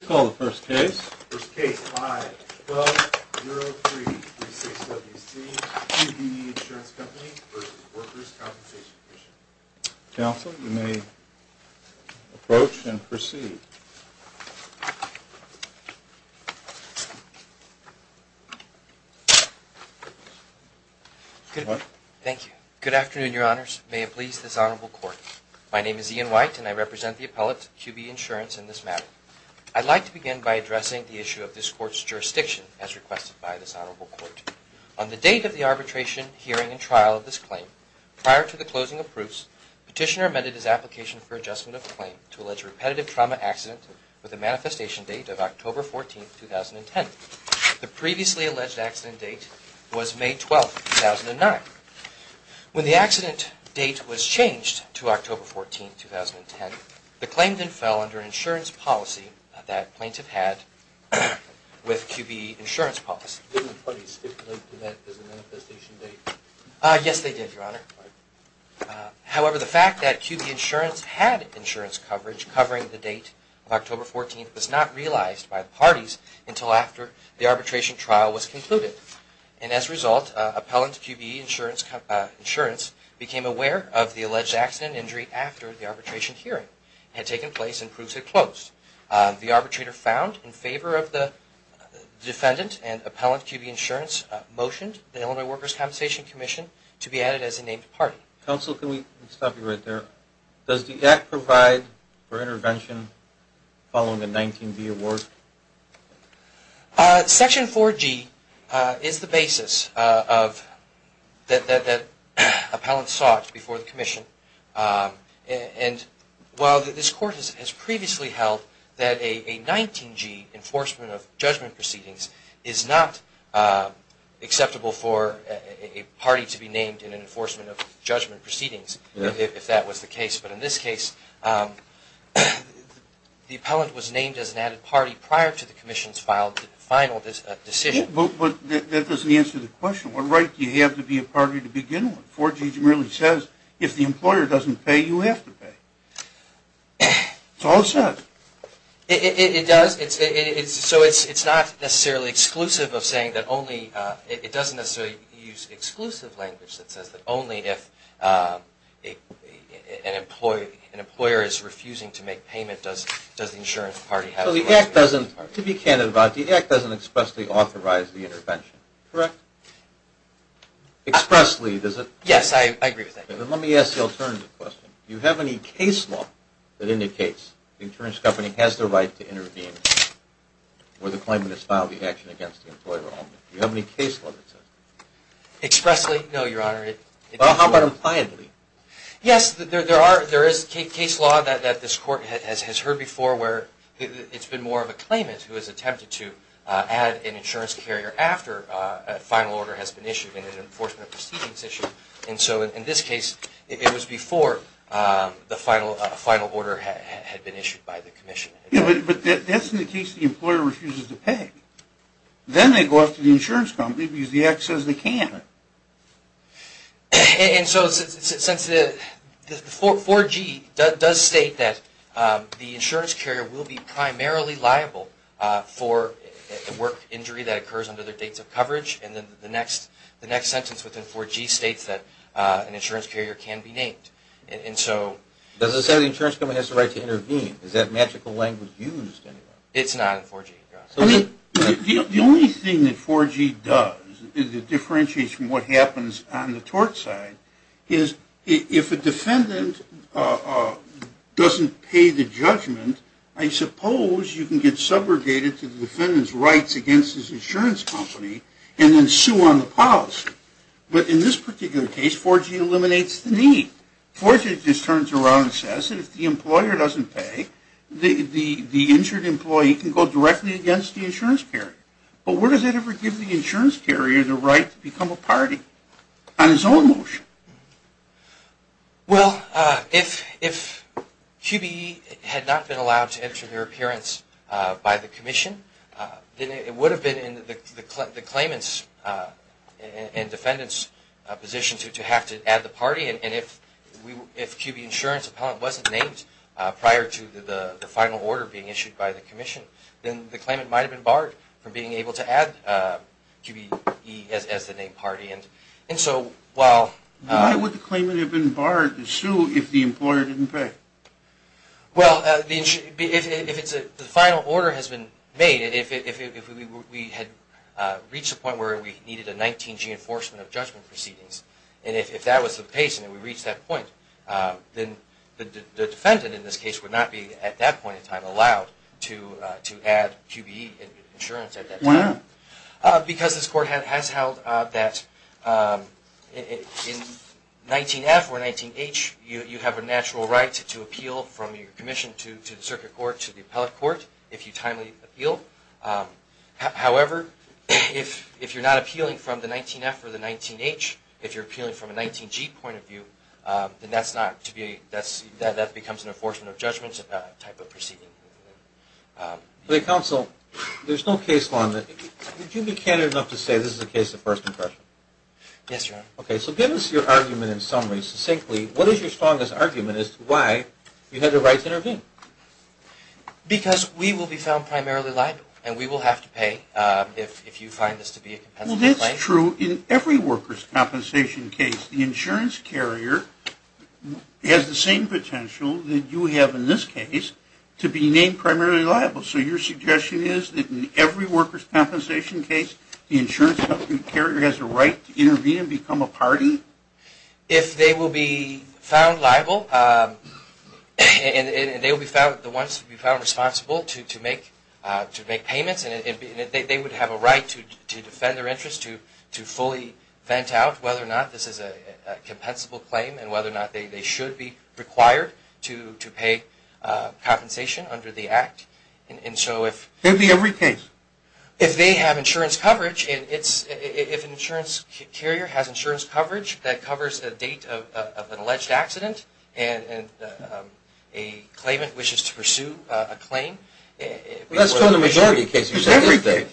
Counsel, you may approach and proceed. Thank you. Good afternoon, your honors. May it please this honorable court. My name is Ian White and I represent the appellate QBE Insurance in this matter. I'd like to begin by addressing the issue of this court's jurisdiction as requested by this honorable court. On the date of the arbitration, hearing, and trial of this claim, prior to the closing of proofs, Petitioner amended his application for adjustment of the claim to allege a repetitive trauma accident with a manifestation date of October 14, 2010. The previously alleged accident date was May 12, 2009. When the accident date was changed to October 14, 2010, the claim then fell under an insurance policy that plaintiff had with QBE Insurance policy. Didn't the parties stipulate that as a manifestation date? Yes they did, your honor. However, the fact that QBE Insurance had insurance coverage covering the date of October 14 was not realized by the parties until after the arbitration trial was concluded. And as a result, appellant QBE Insurance became aware of the alleged accident injury after the arbitration hearing had taken place and proves it closed. The arbitrator found in favor of the defendant and appellant QBE Insurance motioned the Illinois Workers' Compensation Commission to be added as a named party. Counsel, can we stop you right there? Does the act provide for intervention following the 19B award? Section 4G is the basis that appellant sought before the commission. While this court has previously held that a 19G enforcement of judgment proceedings is not acceptable for a party to be named in an enforcement of judgment proceedings if that was the case, but in this case the appellant was named as an added party prior to the commission's final decision. But that doesn't answer the question. What right do you have to be a party to begin with? 4G merely says if the employer doesn't pay, you have to pay. It's all it says. It does. So it's not necessarily exclusive of saying that only, it doesn't necessarily use exclusive language that says that only if an employer is refusing to make payment does the insurance party have to pay. So the act doesn't, to be candid about it, the act doesn't expressly authorize the intervention, correct? Expressly, does it? Yes, I agree with that. Then let me ask the alternative question. Do you have any case law that indicates the insurance company has the right to intervene where the claimant has filed the action against the employer only? Do you have any case law that says that? Expressly? No, Your Honor. Well, how about impliedly? Yes, there is case law that this court has heard before where it's been more of a claimant who has attempted to add an insurance carrier after a final order has been issued in an enforcement proceedings issue. And so in this case, it was before the final order had been issued by the commission. But that's in the case the employer refuses to pay. Then they go up to the insurance company and use the acts as they can. And so since the 4G does state that the insurance carrier will be primarily liable for work injury that occurs under their dates of coverage, and then the next sentence within 4G states that an insurance carrier can be named. Does it say the insurance company has the right to intervene? Is that magical language used? It's not in 4G, Your Honor. The only thing that 4G does is it differentiates from what happens on the tort side. If a defendant doesn't pay the judgment, I suppose you can get subrogated to the defendant's rights against his insurance company and then sue on the policy. But in this particular case, 4G eliminates the need. 4G just turns around and says that if the employer doesn't pay, the injured employee can go directly against the insurance carrier. But where does it ever give the insurance carrier the right to become a party on his own motion? Well, if QBE had not been allowed to enter their appearance by the commission, then it would have been in the claimant's and defendant's position to have to add the party. And if QBE Insurance Appellant wasn't named prior to the final order being issued by the commission, then the claimant might have been barred from being able to add QBE as the named party. Why would the claimant have been barred to sue if the employer didn't pay? Well, the final order has been made. If we had reached the point where we needed a 19G enforcement of judgment proceedings, and if that was the case and we reached that point, then the defendant in this case would not be, at that point in time, allowed to add QBE insurance at that time. Why? Because this court has held that in 19F or 19H, you have a natural right to appeal from your commission to the circuit court to the appellate court if you timely appeal. However, if you're not appealing from the 19F or the 19H, if you're appealing from a 19G point of view, then that becomes an enforcement of judgment type of proceeding. Counsel, there's no case on that. Would you be candid enough to say this is a case of first impression? Yes, Your Honor. Okay, so give us your argument in summary, succinctly. What is your strongest argument as to why you had the right to intervene? Because we will be found primarily liable, and we will have to pay if you find this to be a compensatory claim. Well, that's true in every workers' compensation case. The insurance carrier has the same potential that you have in this case to be named primarily liable. So your suggestion is that in every workers' compensation case, the insurance carrier has a right to intervene and become a party? If they will be found liable, and they will be found responsible to make payments, they would have a right to defend their interest, to fully vent out whether or not this is a compensable claim and whether or not they should be required to pay compensation under the Act. In every case? If they have insurance coverage, if an insurance carrier has insurance coverage that covers the date of an alleged accident and a claimant wishes to pursue a claim. That's true in the majority of cases. If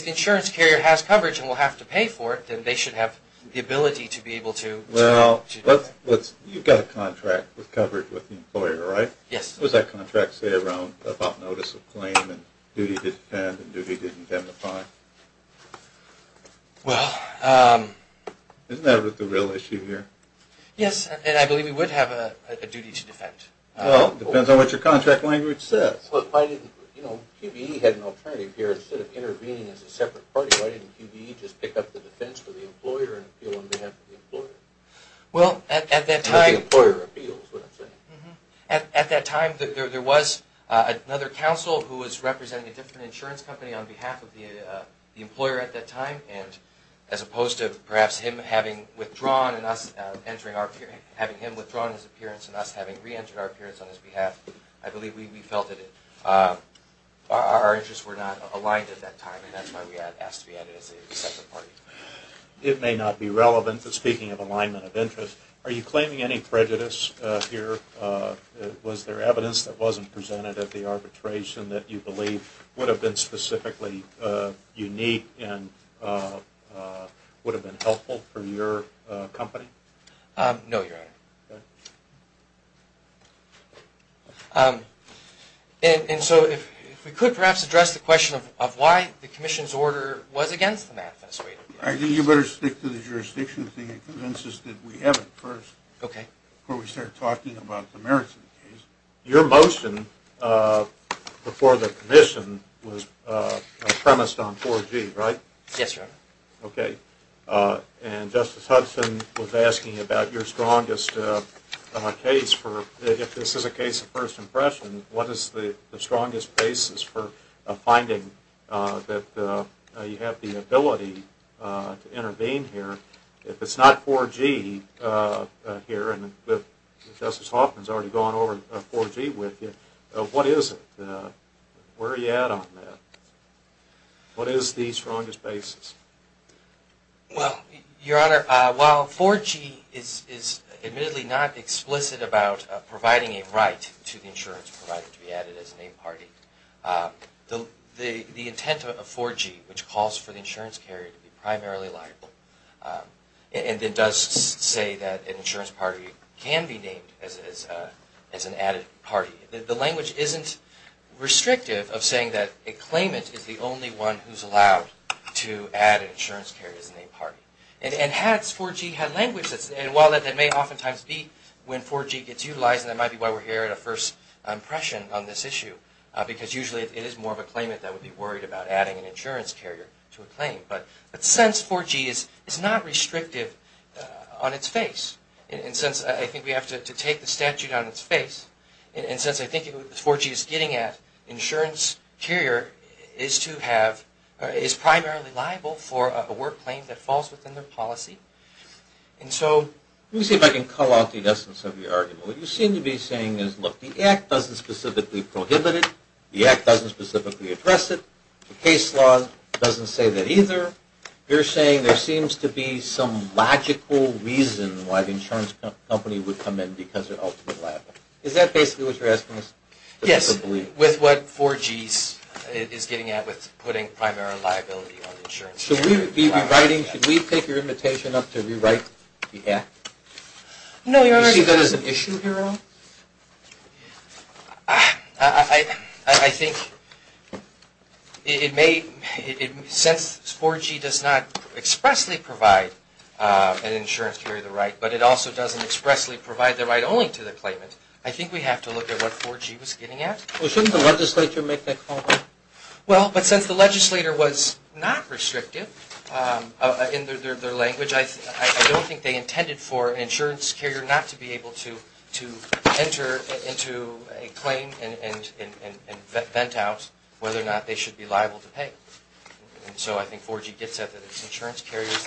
the insurance carrier has coverage and will have to pay for it, then they should have the ability to be able to do that. You've got a contract with coverage with the employer, right? Yes. What does that contract say about notice of claim and duty to defend and duty to indemnify? Well... Isn't that the real issue here? Yes, and I believe we would have a duty to defend. Well, it depends on what your contract language says. If QBE had an alternative here, instead of intervening as a separate party, why didn't QBE just pick up the defense for the employer and appeal on behalf of the employer? Well, at that time... It's not the employer appeals, is what I'm saying. At that time, there was another counsel who was representing a different insurance company on behalf of the employer at that time, and as opposed to perhaps him having withdrawn his appearance and us having re-entered our appearance on his behalf, I believe we felt that our interests were not aligned at that time, and that's why we asked to be added as a separate party. It may not be relevant, but speaking of alignment of interests, are you claiming any prejudice here? Was there evidence that wasn't presented that the arbitration that you believe would have been specifically unique and would have been helpful for your company? No, Your Honor. Okay. And so if we could perhaps address the question of why the commission's order was against the math, I think you better stick to the jurisdiction thing and convince us that we have it first before we start talking about the merits of the case. Your motion before the commission was premised on 4G, right? Yes, Your Honor. Okay. And Justice Hudson was asking about your strongest case for, if this is a case of first impression, what is the strongest basis for finding that you have the ability to intervene here? If it's not 4G here, and Justice Hoffman has already gone over 4G with you, what is it? Where are you at on that? What is the strongest basis? Well, Your Honor, while 4G is admittedly not explicit about providing a right to the insurance provided to be added as a named party, the intent of 4G, which calls for the insurance carrier to be primarily liable, and it does say that an insurance party can be named as an added party, the language isn't restrictive of saying that a claimant is the only one who's allowed to add an insurance carrier as a named party. And had 4G had language, and while that may oftentimes be when 4G gets utilized, and that might be why we're here at a first impression on this issue, because usually it is more of a claimant that would be worried about adding an insurance carrier to a claim, but since 4G is not restrictive on its face, and since I think we have to take the statute on its face, and since I think what 4G is getting at, insurance carrier is primarily liable for a work claim that falls within their policy. Let me see if I can call out the essence of your argument. What you seem to be saying is, look, the Act doesn't specifically prohibit it, the Act doesn't specifically address it, the case law doesn't say that either. You're saying there seems to be some logical reason why the insurance company would come in because they're ultimately liable. Is that basically what you're asking us? Yes, with what 4G is getting at with putting primary liability on the insurance carrier. Should we be rewriting, should we take your invitation up to rewrite the Act? No, you already have. Do you see that as an issue here at all? I think it may, since 4G does not expressly provide an insurance carrier the right, but it also doesn't expressly provide the right only to the claimant, I think we have to look at what 4G was getting at. Well, shouldn't the legislature make that call? Well, but since the legislature was not restrictive in their language, I don't think they intended for an insurance carrier not to be able to enter into a claim and vent out whether or not they should be liable to pay. And so I think 4G gets at that it's insurance carriers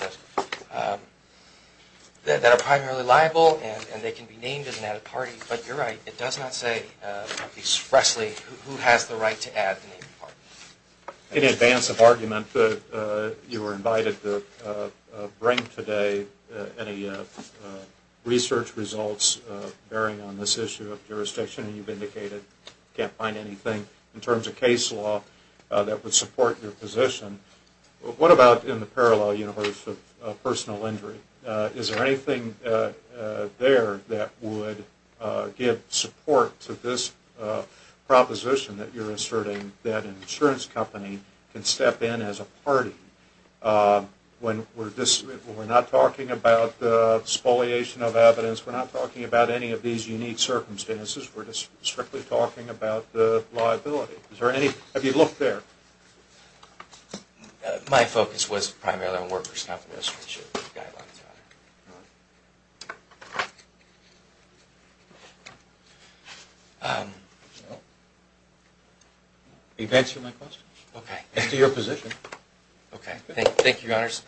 that are primarily liable and they can be named as an added party. But you're right, it does not say expressly who has the right to add the named party. In advance of argument, you were invited to bring today any research results bearing on this issue of jurisdiction. You've indicated you can't find anything in terms of case law that would support your position. What about in the parallel universe of personal injury? Is there anything there that would give support to this proposition that you're asserting that an insurance company can step in as a party when we're not talking about spoliation of evidence, we're not talking about any of these unique circumstances, we're just strictly talking about the liability. Have you looked there? My focus was primarily on workers' compensation guidelines, Your Honor. He's answered my question. Okay. As to your position. Okay. Thank you, Your Honors.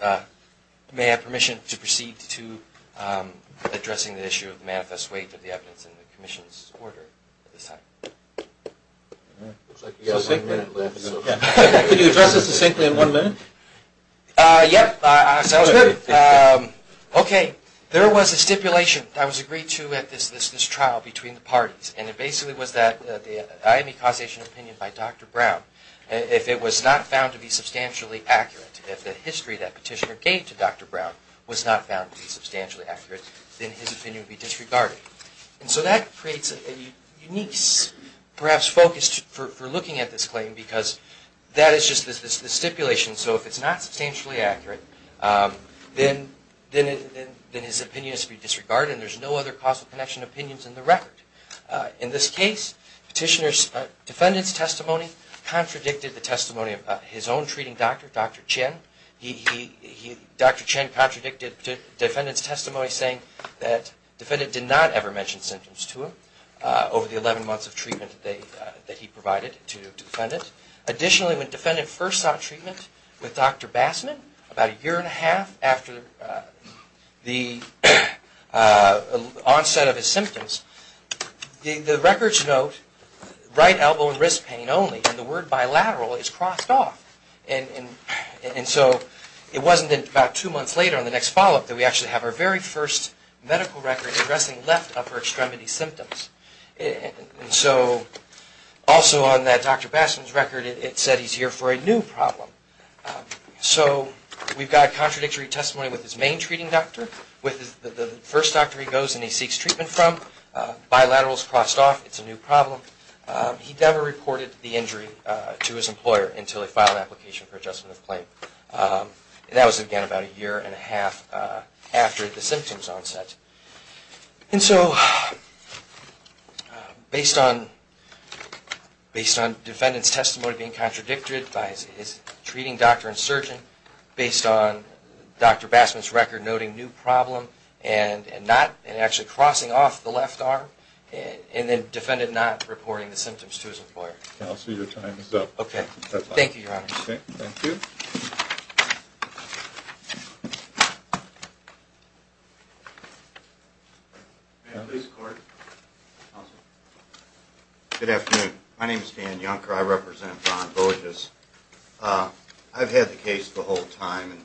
May I have permission to proceed to addressing the issue of the manifest weight of the evidence in the commission's order at this time? Looks like you guys have one minute left. Could you address this succinctly in one minute? Yep. Sounds good. Okay. There was a stipulation that was agreed to at this trial between the parties, and it basically was that the IME causation opinion by Dr. Brown, if it was not found to be substantially accurate, if the history that petitioner gave to Dr. Brown was not found to be substantially accurate, then his opinion would be disregarded. And so that creates a unique perhaps focus for looking at this claim because that is just the stipulation. So if it's not substantially accurate, then his opinion is to be disregarded and there's no other causal connection opinions in the record. In this case, petitioner's defendant's testimony contradicted the testimony of his own treating doctor, Dr. Chen. Dr. Chen contradicted the defendant's testimony, saying that the defendant did not ever mention symptoms to him over the 11 months of treatment that he provided to the defendant. Additionally, when the defendant first sought treatment with Dr. Bassman, about a year and a half after the onset of his symptoms, the records note right elbow and wrist pain only, and the word bilateral is crossed off. And so it wasn't until about two months later on the next follow-up that we actually have our very first medical record addressing left upper extremity symptoms. And so also on that Dr. Bassman's record, it said he's here for a new problem. So we've got contradictory testimony with his main treating doctor, with the first doctor he goes and he seeks treatment from, bilaterals crossed off, it's a new problem. He never reported the injury to his employer until he filed an application for adjustment of claim. And that was again about a year and a half after the symptoms onset. And so based on defendant's testimony being contradicted by his treating doctor and surgeon, based on Dr. Bassman's record noting new problem and actually crossing off the left arm, and then defendant not reporting the symptoms to his employer. Counselor, your time is up. Okay. Thank you, Your Honor. Okay. Thank you. Ma'am, please record. Counselor. Good afternoon. My name is Dan Junker. I represent Von Boges. I've had the case the whole time and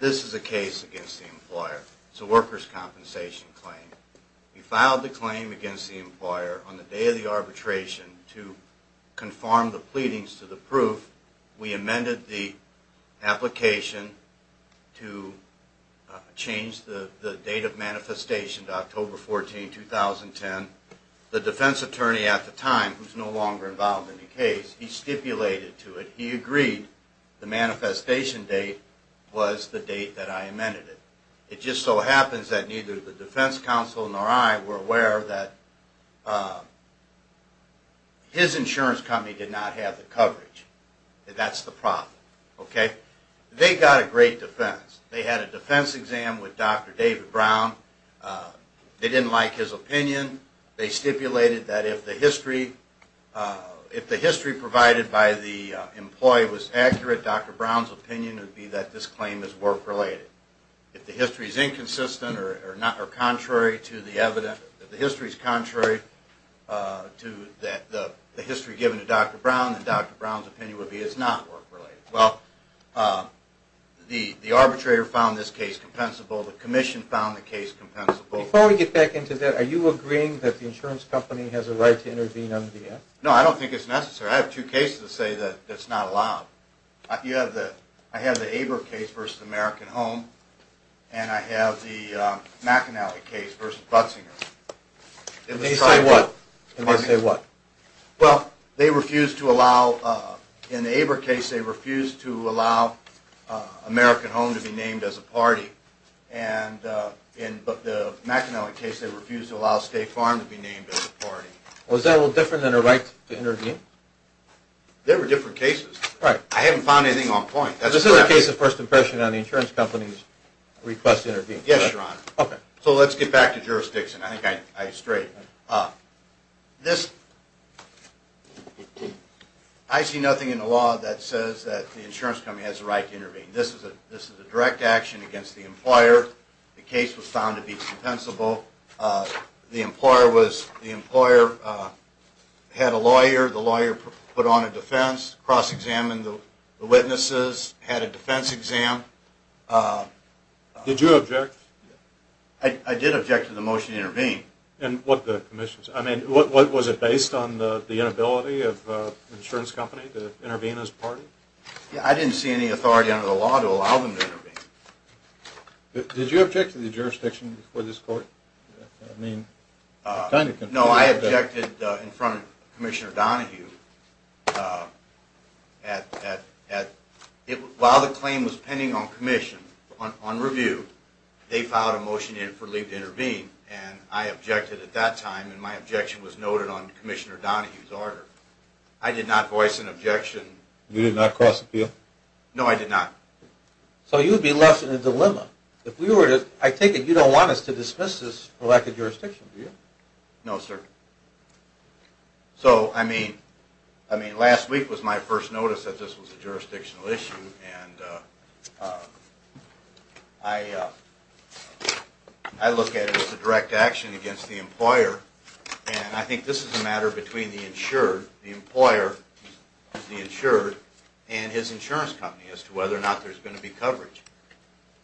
this is a case against the employer. It's a worker's compensation claim. We filed the claim against the employer on the day of the arbitration to conform the pleadings to the proof. We amended the application to change the date of manifestation to October 14, 2010. The defense attorney at the time, who's no longer involved in the case, he stipulated to it, he agreed the manifestation date was the date that I amended it. It just so happens that neither the defense counsel nor I were aware that his insurance company did not have the coverage. That's the problem. Okay? They got a great defense. They had a defense exam with Dr. David Brown. They didn't like his opinion. They stipulated that if the history provided by the employee was accurate, Dr. Brown's opinion would be that this claim is work-related. If the history is inconsistent or contrary to the history given to Dr. Brown, then Dr. Brown's opinion would be it's not work-related. Well, the arbitrator found this case compensable. The commission found the case compensable. Before we get back into that, are you agreeing that the insurance company has a right to intervene under the act? No, I don't think it's necessary. I have two cases that say that it's not allowed. I have the Abra case versus American Home, and I have the McInerney case versus Butsinger. They say what? Well, they refused to allow, in the Abra case, they refused to allow American Home to be named as a party. But the McInerney case, they refused to allow State Farm to be named as a party. Was that a little different than a right to intervene? They were different cases. Right. I haven't found anything on point. This is a case of first impression on the insurance company's request to intervene. Yes, Your Honor. Okay. So let's get back to jurisdiction. I think I strayed. I see nothing in the law that says that the insurance company has a right to intervene. This is a direct action against the employer. The case was found to be compensable. The employer had a lawyer. The lawyer put on a defense, cross-examined the witnesses, had a defense exam. Did you object? I did object to the motion to intervene. And what the commission's? I mean, was it based on the inability of the insurance company to intervene as a party? I didn't see any authority under the law to allow them to intervene. Did you object to the jurisdiction before this court? No, I objected in front of Commissioner Donahue. While the claim was pending on commission, on review, they filed a motion for Lee to intervene, and I objected at that time, and my objection was noted on Commissioner Donahue's order. I did not voice an objection. You did not cross appeal? No, I did not. So you would be left in a dilemma. I take it you don't want us to dismiss this for lack of jurisdiction, do you? No, sir. So, I mean, last week was my first notice that this was a jurisdictional issue, and I look at it as a direct action against the employer, and I think this is a matter between the insured, the employer, the insured, and his insurance company as to whether or not there's going to be coverage.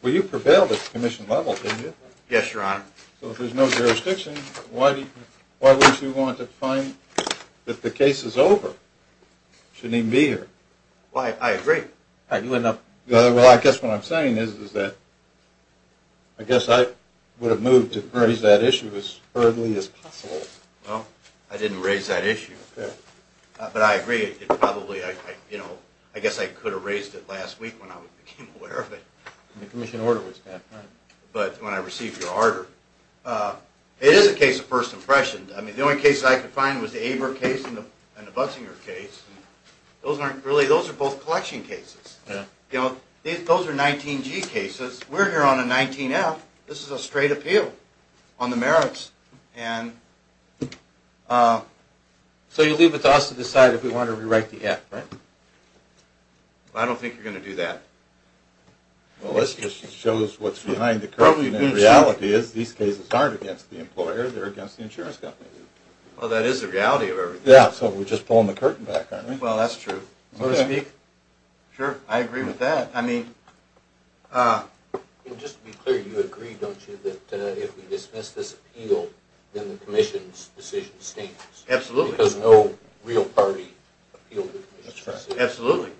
Well, you prevailed at the commission level, didn't you? Yes, Your Honor. So if there's no jurisdiction, why would you want to find that the case is over? It shouldn't even be here. Well, I agree. Well, I guess what I'm saying is that I guess I would have moved to raise that issue as urgently as possible. Well, I didn't raise that issue. But I agree. It probably, you know, I guess I could have raised it last week when I became aware of it. When the commission order was passed, right. But when I received your order. It is a case of first impression. I mean, the only case I could find was the Aber case and the Buxinger case. Those aren't really, those are both collection cases. You know, those are 19G cases. We're here on a 19F. This is a straight appeal on the merits. And so you leave it to us to decide if we want to rewrite the F, right? I don't think you're going to do that. Well, this just shows what's behind the curtain. The reality is these cases aren't against the employer. They're against the insurance company. Well, that is the reality of everything. Yeah, so we're just pulling the curtain back, aren't we? Well, that's true. So to speak. Sure, I agree with that. Just to be clear, you agree, don't you, that if we dismiss this appeal, then the commission's decision stinks. Absolutely. Because no real party appealed the commission's decision. Absolutely.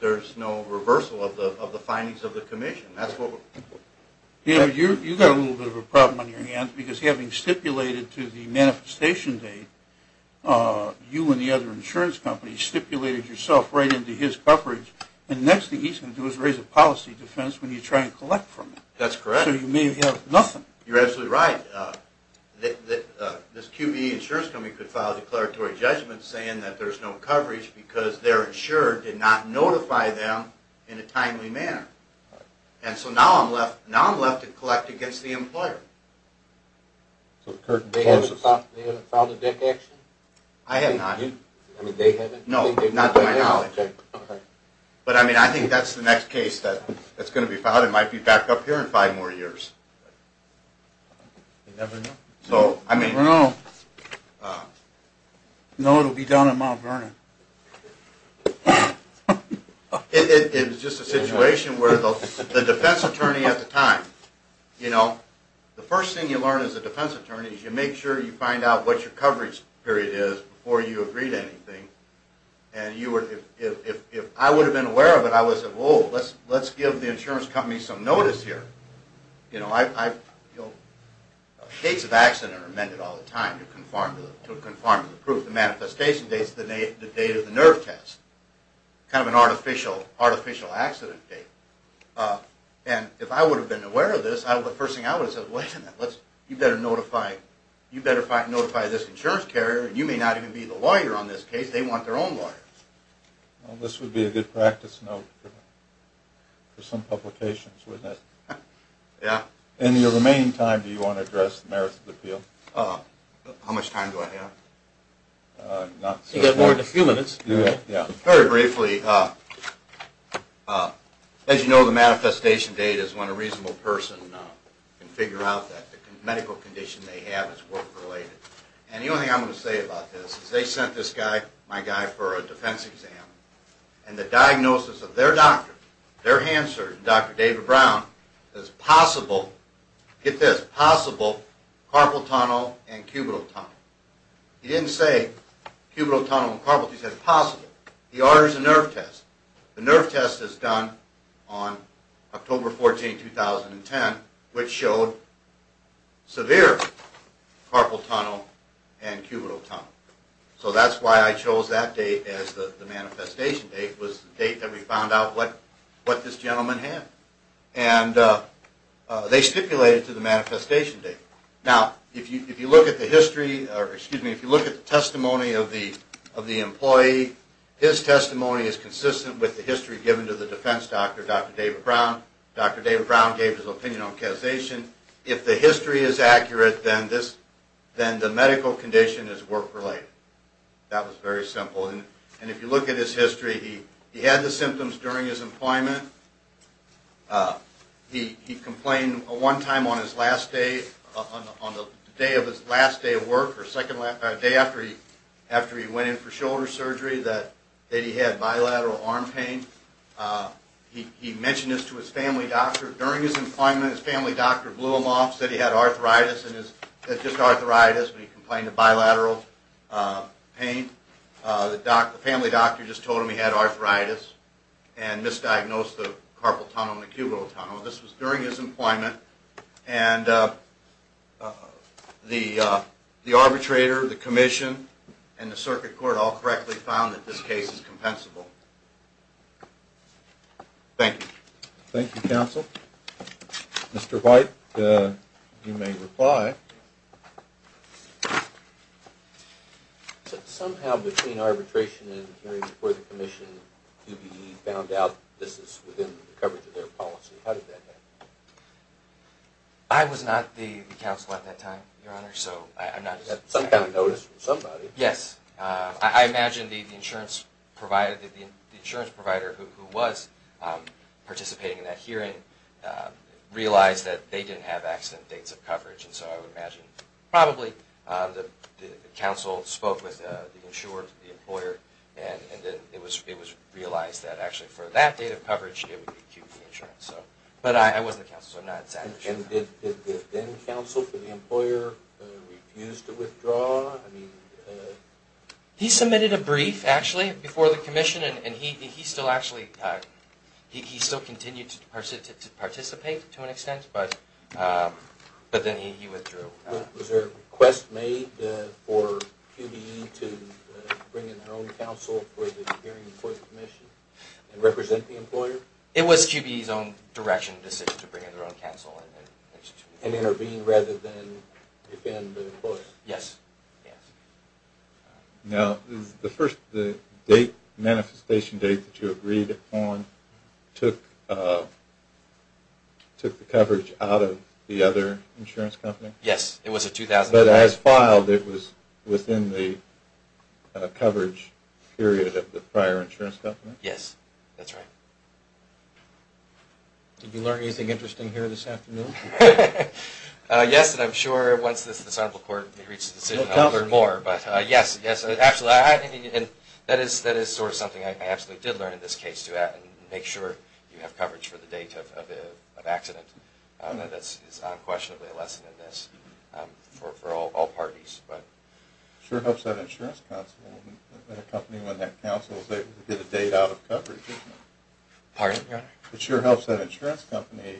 There's no reversal of the findings of the commission. You've got a little bit of a problem on your hands. Because having stipulated to the manifestation date, you and the other insurance companies stipulated yourself right into his coverage. And the next thing he's going to do is raise a policy defense when you try and collect from him. That's correct. So you may have nothing. You're absolutely right. This QBE insurance company could file a declaratory judgment saying that there's no coverage because their insurer did not notify them in a timely manner. And so now I'm left to collect against the employer. So they haven't filed a debt action? I have not. They haven't? No, not to my knowledge. Okay. But, I mean, I think that's the next case that's going to be filed. It might be back up here in five more years. You never know. You never know. No, it'll be down in Mount Vernon. It's just a situation where the defense attorney at the time, you know, the first thing you learn as a defense attorney is you make sure you find out what your coverage period is before you agree to anything. And if I would have been aware of it, I would have said, oh, let's give the insurance company some notice here. You know, dates of accident are amended all the time to conform to the proof. The manifestation date is the date of the nerve test, kind of an artificial accident date. And if I would have been aware of this, the first thing I would have said, well, you better notify this insurance carrier. You may not even be the lawyer on this case. They want their own lawyers. Well, this would be a good practice note for some publications, wouldn't it? Yeah. In your remaining time, do you want to address the merits of the appeal? How much time do I have? You've got more than a few minutes. Very briefly, as you know, the manifestation date is when a reasonable person can figure out that the medical condition they have is work-related. And the only thing I'm going to say about this is they sent this guy, my guy, for a defense exam. And the diagnosis of their doctor, their hand surgeon, Dr. David Brown, is possible, get this, possible carpal tunnel and cubital tunnel. He didn't say cubital tunnel and carpal tunnel. He said possible. He orders a nerve test. The nerve test is done on October 14, 2010, which showed severe carpal tunnel and cubital tunnel. So that's why I chose that date as the manifestation date was the date that we found out what this gentleman had. And they stipulated to the manifestation date. Now, if you look at the testimony of the employee, his testimony is consistent with the history given to the defense doctor, Dr. David Brown. Dr. David Brown gave his opinion on causation. If the history is accurate, then the medical condition is work-related. That was very simple. And if you look at his history, he had the symptoms during his employment. He complained one time on his last day, on the day of his last day of work, or the day after he went in for shoulder surgery that he had bilateral arm pain. He mentioned this to his family doctor. During his employment, his family doctor blew him off, said he had arthritis, just arthritis, but he complained of bilateral pain. The family doctor just told him he had arthritis and misdiagnosed the carpal tunnel and the cubital tunnel. This was during his employment. And the arbitrator, the commission, and the circuit court all correctly found that this case is compensable. Thank you. Thank you, counsel. Mr. White, you may reply. Somehow, between arbitration and the hearing before the commission, UBE found out this is within the coverage of their policy. How did that happen? I was not the counsel at that time, Your Honor, so I'm not as— Somebody noticed from somebody. Yes. I imagine the insurance provider who was participating in that hearing realized that they didn't have accident dates of coverage, and so I would imagine probably the counsel spoke with the insurer, the employer, and then it was realized that actually for that date of coverage, it would be QE insurance. But I wasn't the counsel, so I'm not exactly sure. And did the then counsel for the employer refuse to withdraw? He submitted a brief, actually, before the commission, and he still continued to participate to an extent, but then he withdrew. Was there a request made for QBE to bring in their own counsel for the hearing before the commission and represent the employer? It was QBE's own direction, decision to bring in their own counsel. And intervene rather than defend the employer? Yes. Now, the first manifestation date that you agreed upon took the coverage out of the other insurance company? Yes, it was a 2009— But as filed, it was within the coverage period of the prior insurance company? Yes, that's right. Did you learn anything interesting here this afternoon? Yes, and I'm sure once the Senate will reach a decision, I'll learn more. But yes, absolutely. That is sort of something I absolutely did learn in this case, to make sure you have coverage for the date of accident. That is unquestionably a lesson in this for all parties. It sure helps that insurance counsel in a company when that counsel is able to get a date out of coverage, doesn't it? Pardon, Your Honor? It sure helps that insurance company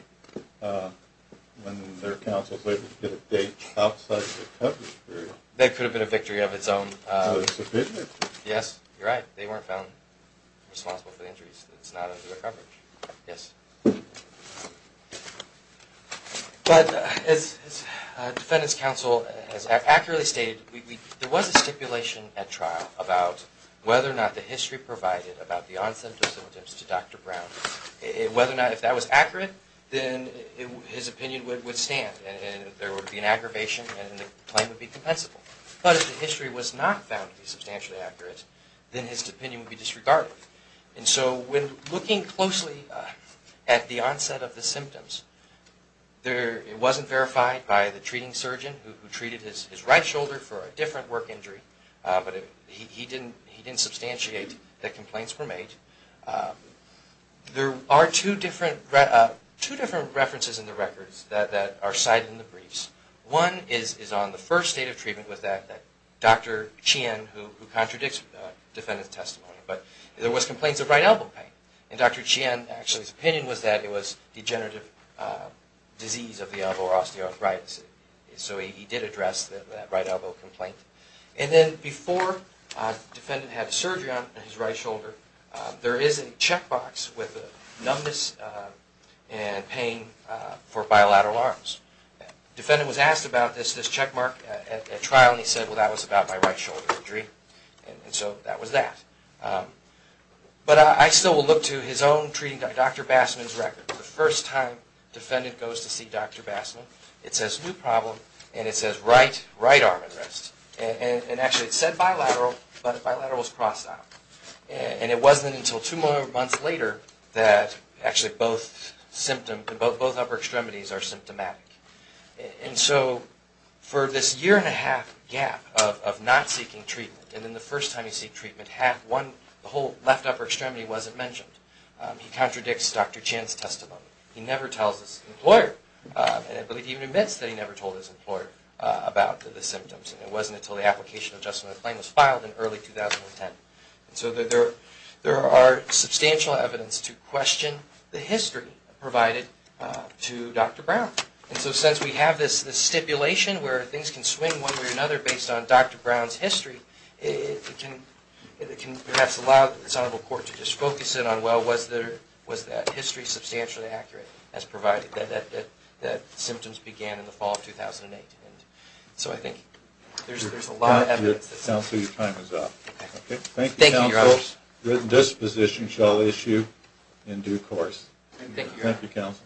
when their counsel is able to get a date outside the coverage period. That could have been a victory of its own. So it's a victory? Yes, you're right. They weren't found responsible for the injuries. It's not under the coverage. Yes. But as defendant's counsel has accurately stated, there was a stipulation at trial about whether or not the history provided about the onset of symptoms to Dr. Brown. Whether or not if that was accurate, then his opinion would stand and there would be an aggravation and the claim would be compensable. But if the history was not found to be substantially accurate, then his opinion would be disregarded. And so when looking closely at the onset of the symptoms, it wasn't verified by the treating surgeon who treated his right shoulder for a different work injury. But he didn't substantiate that complaints were made. There are two different references in the records that are cited in the briefs. One is on the first state of treatment with that Dr. Qian who contradicts defendant's testimony. But there was complaints of right elbow pain. And Dr. Qian, actually, his opinion was that it was degenerative disease of the elbow or osteoarthritis. So he did address that right elbow complaint. And then before defendant had surgery on his right shoulder, there is a checkbox with numbness and pain for bilateral arms. Defendant was asked about this checkmark at trial, and he said, well, that was about my right shoulder injury. And so that was that. But I still will look to his own treating doctor, Dr. Bassman's record. The first time defendant goes to see Dr. Bassman, it says new problem, and it says right arm arrest. And actually, it said bilateral, but bilateral was crossed out. And it wasn't until two months later that actually both symptoms, both upper extremities are symptomatic. And so for this year and a half gap of not seeking treatment, and then the first time he seeked treatment, the whole left upper extremity wasn't mentioned. He contradicts Dr. Qian's testimony. He never tells his employer, and I believe he even admits that he never told his employer about the symptoms. And it wasn't until the application adjustment claim was filed in early 2010. And so there are substantial evidence to question the history provided to Dr. Brown. And so since we have this stipulation where things can swing one way or another based on Dr. Brown's history, it can perhaps allow this honorable court to just focus in on, well, was that history substantially accurate as provided that symptoms began in the fall of 2008? And so I think there's a lot of evidence. Counsel, your time is up. Thank you, counsel. Your disposition shall issue in due course. Thank you, counsel.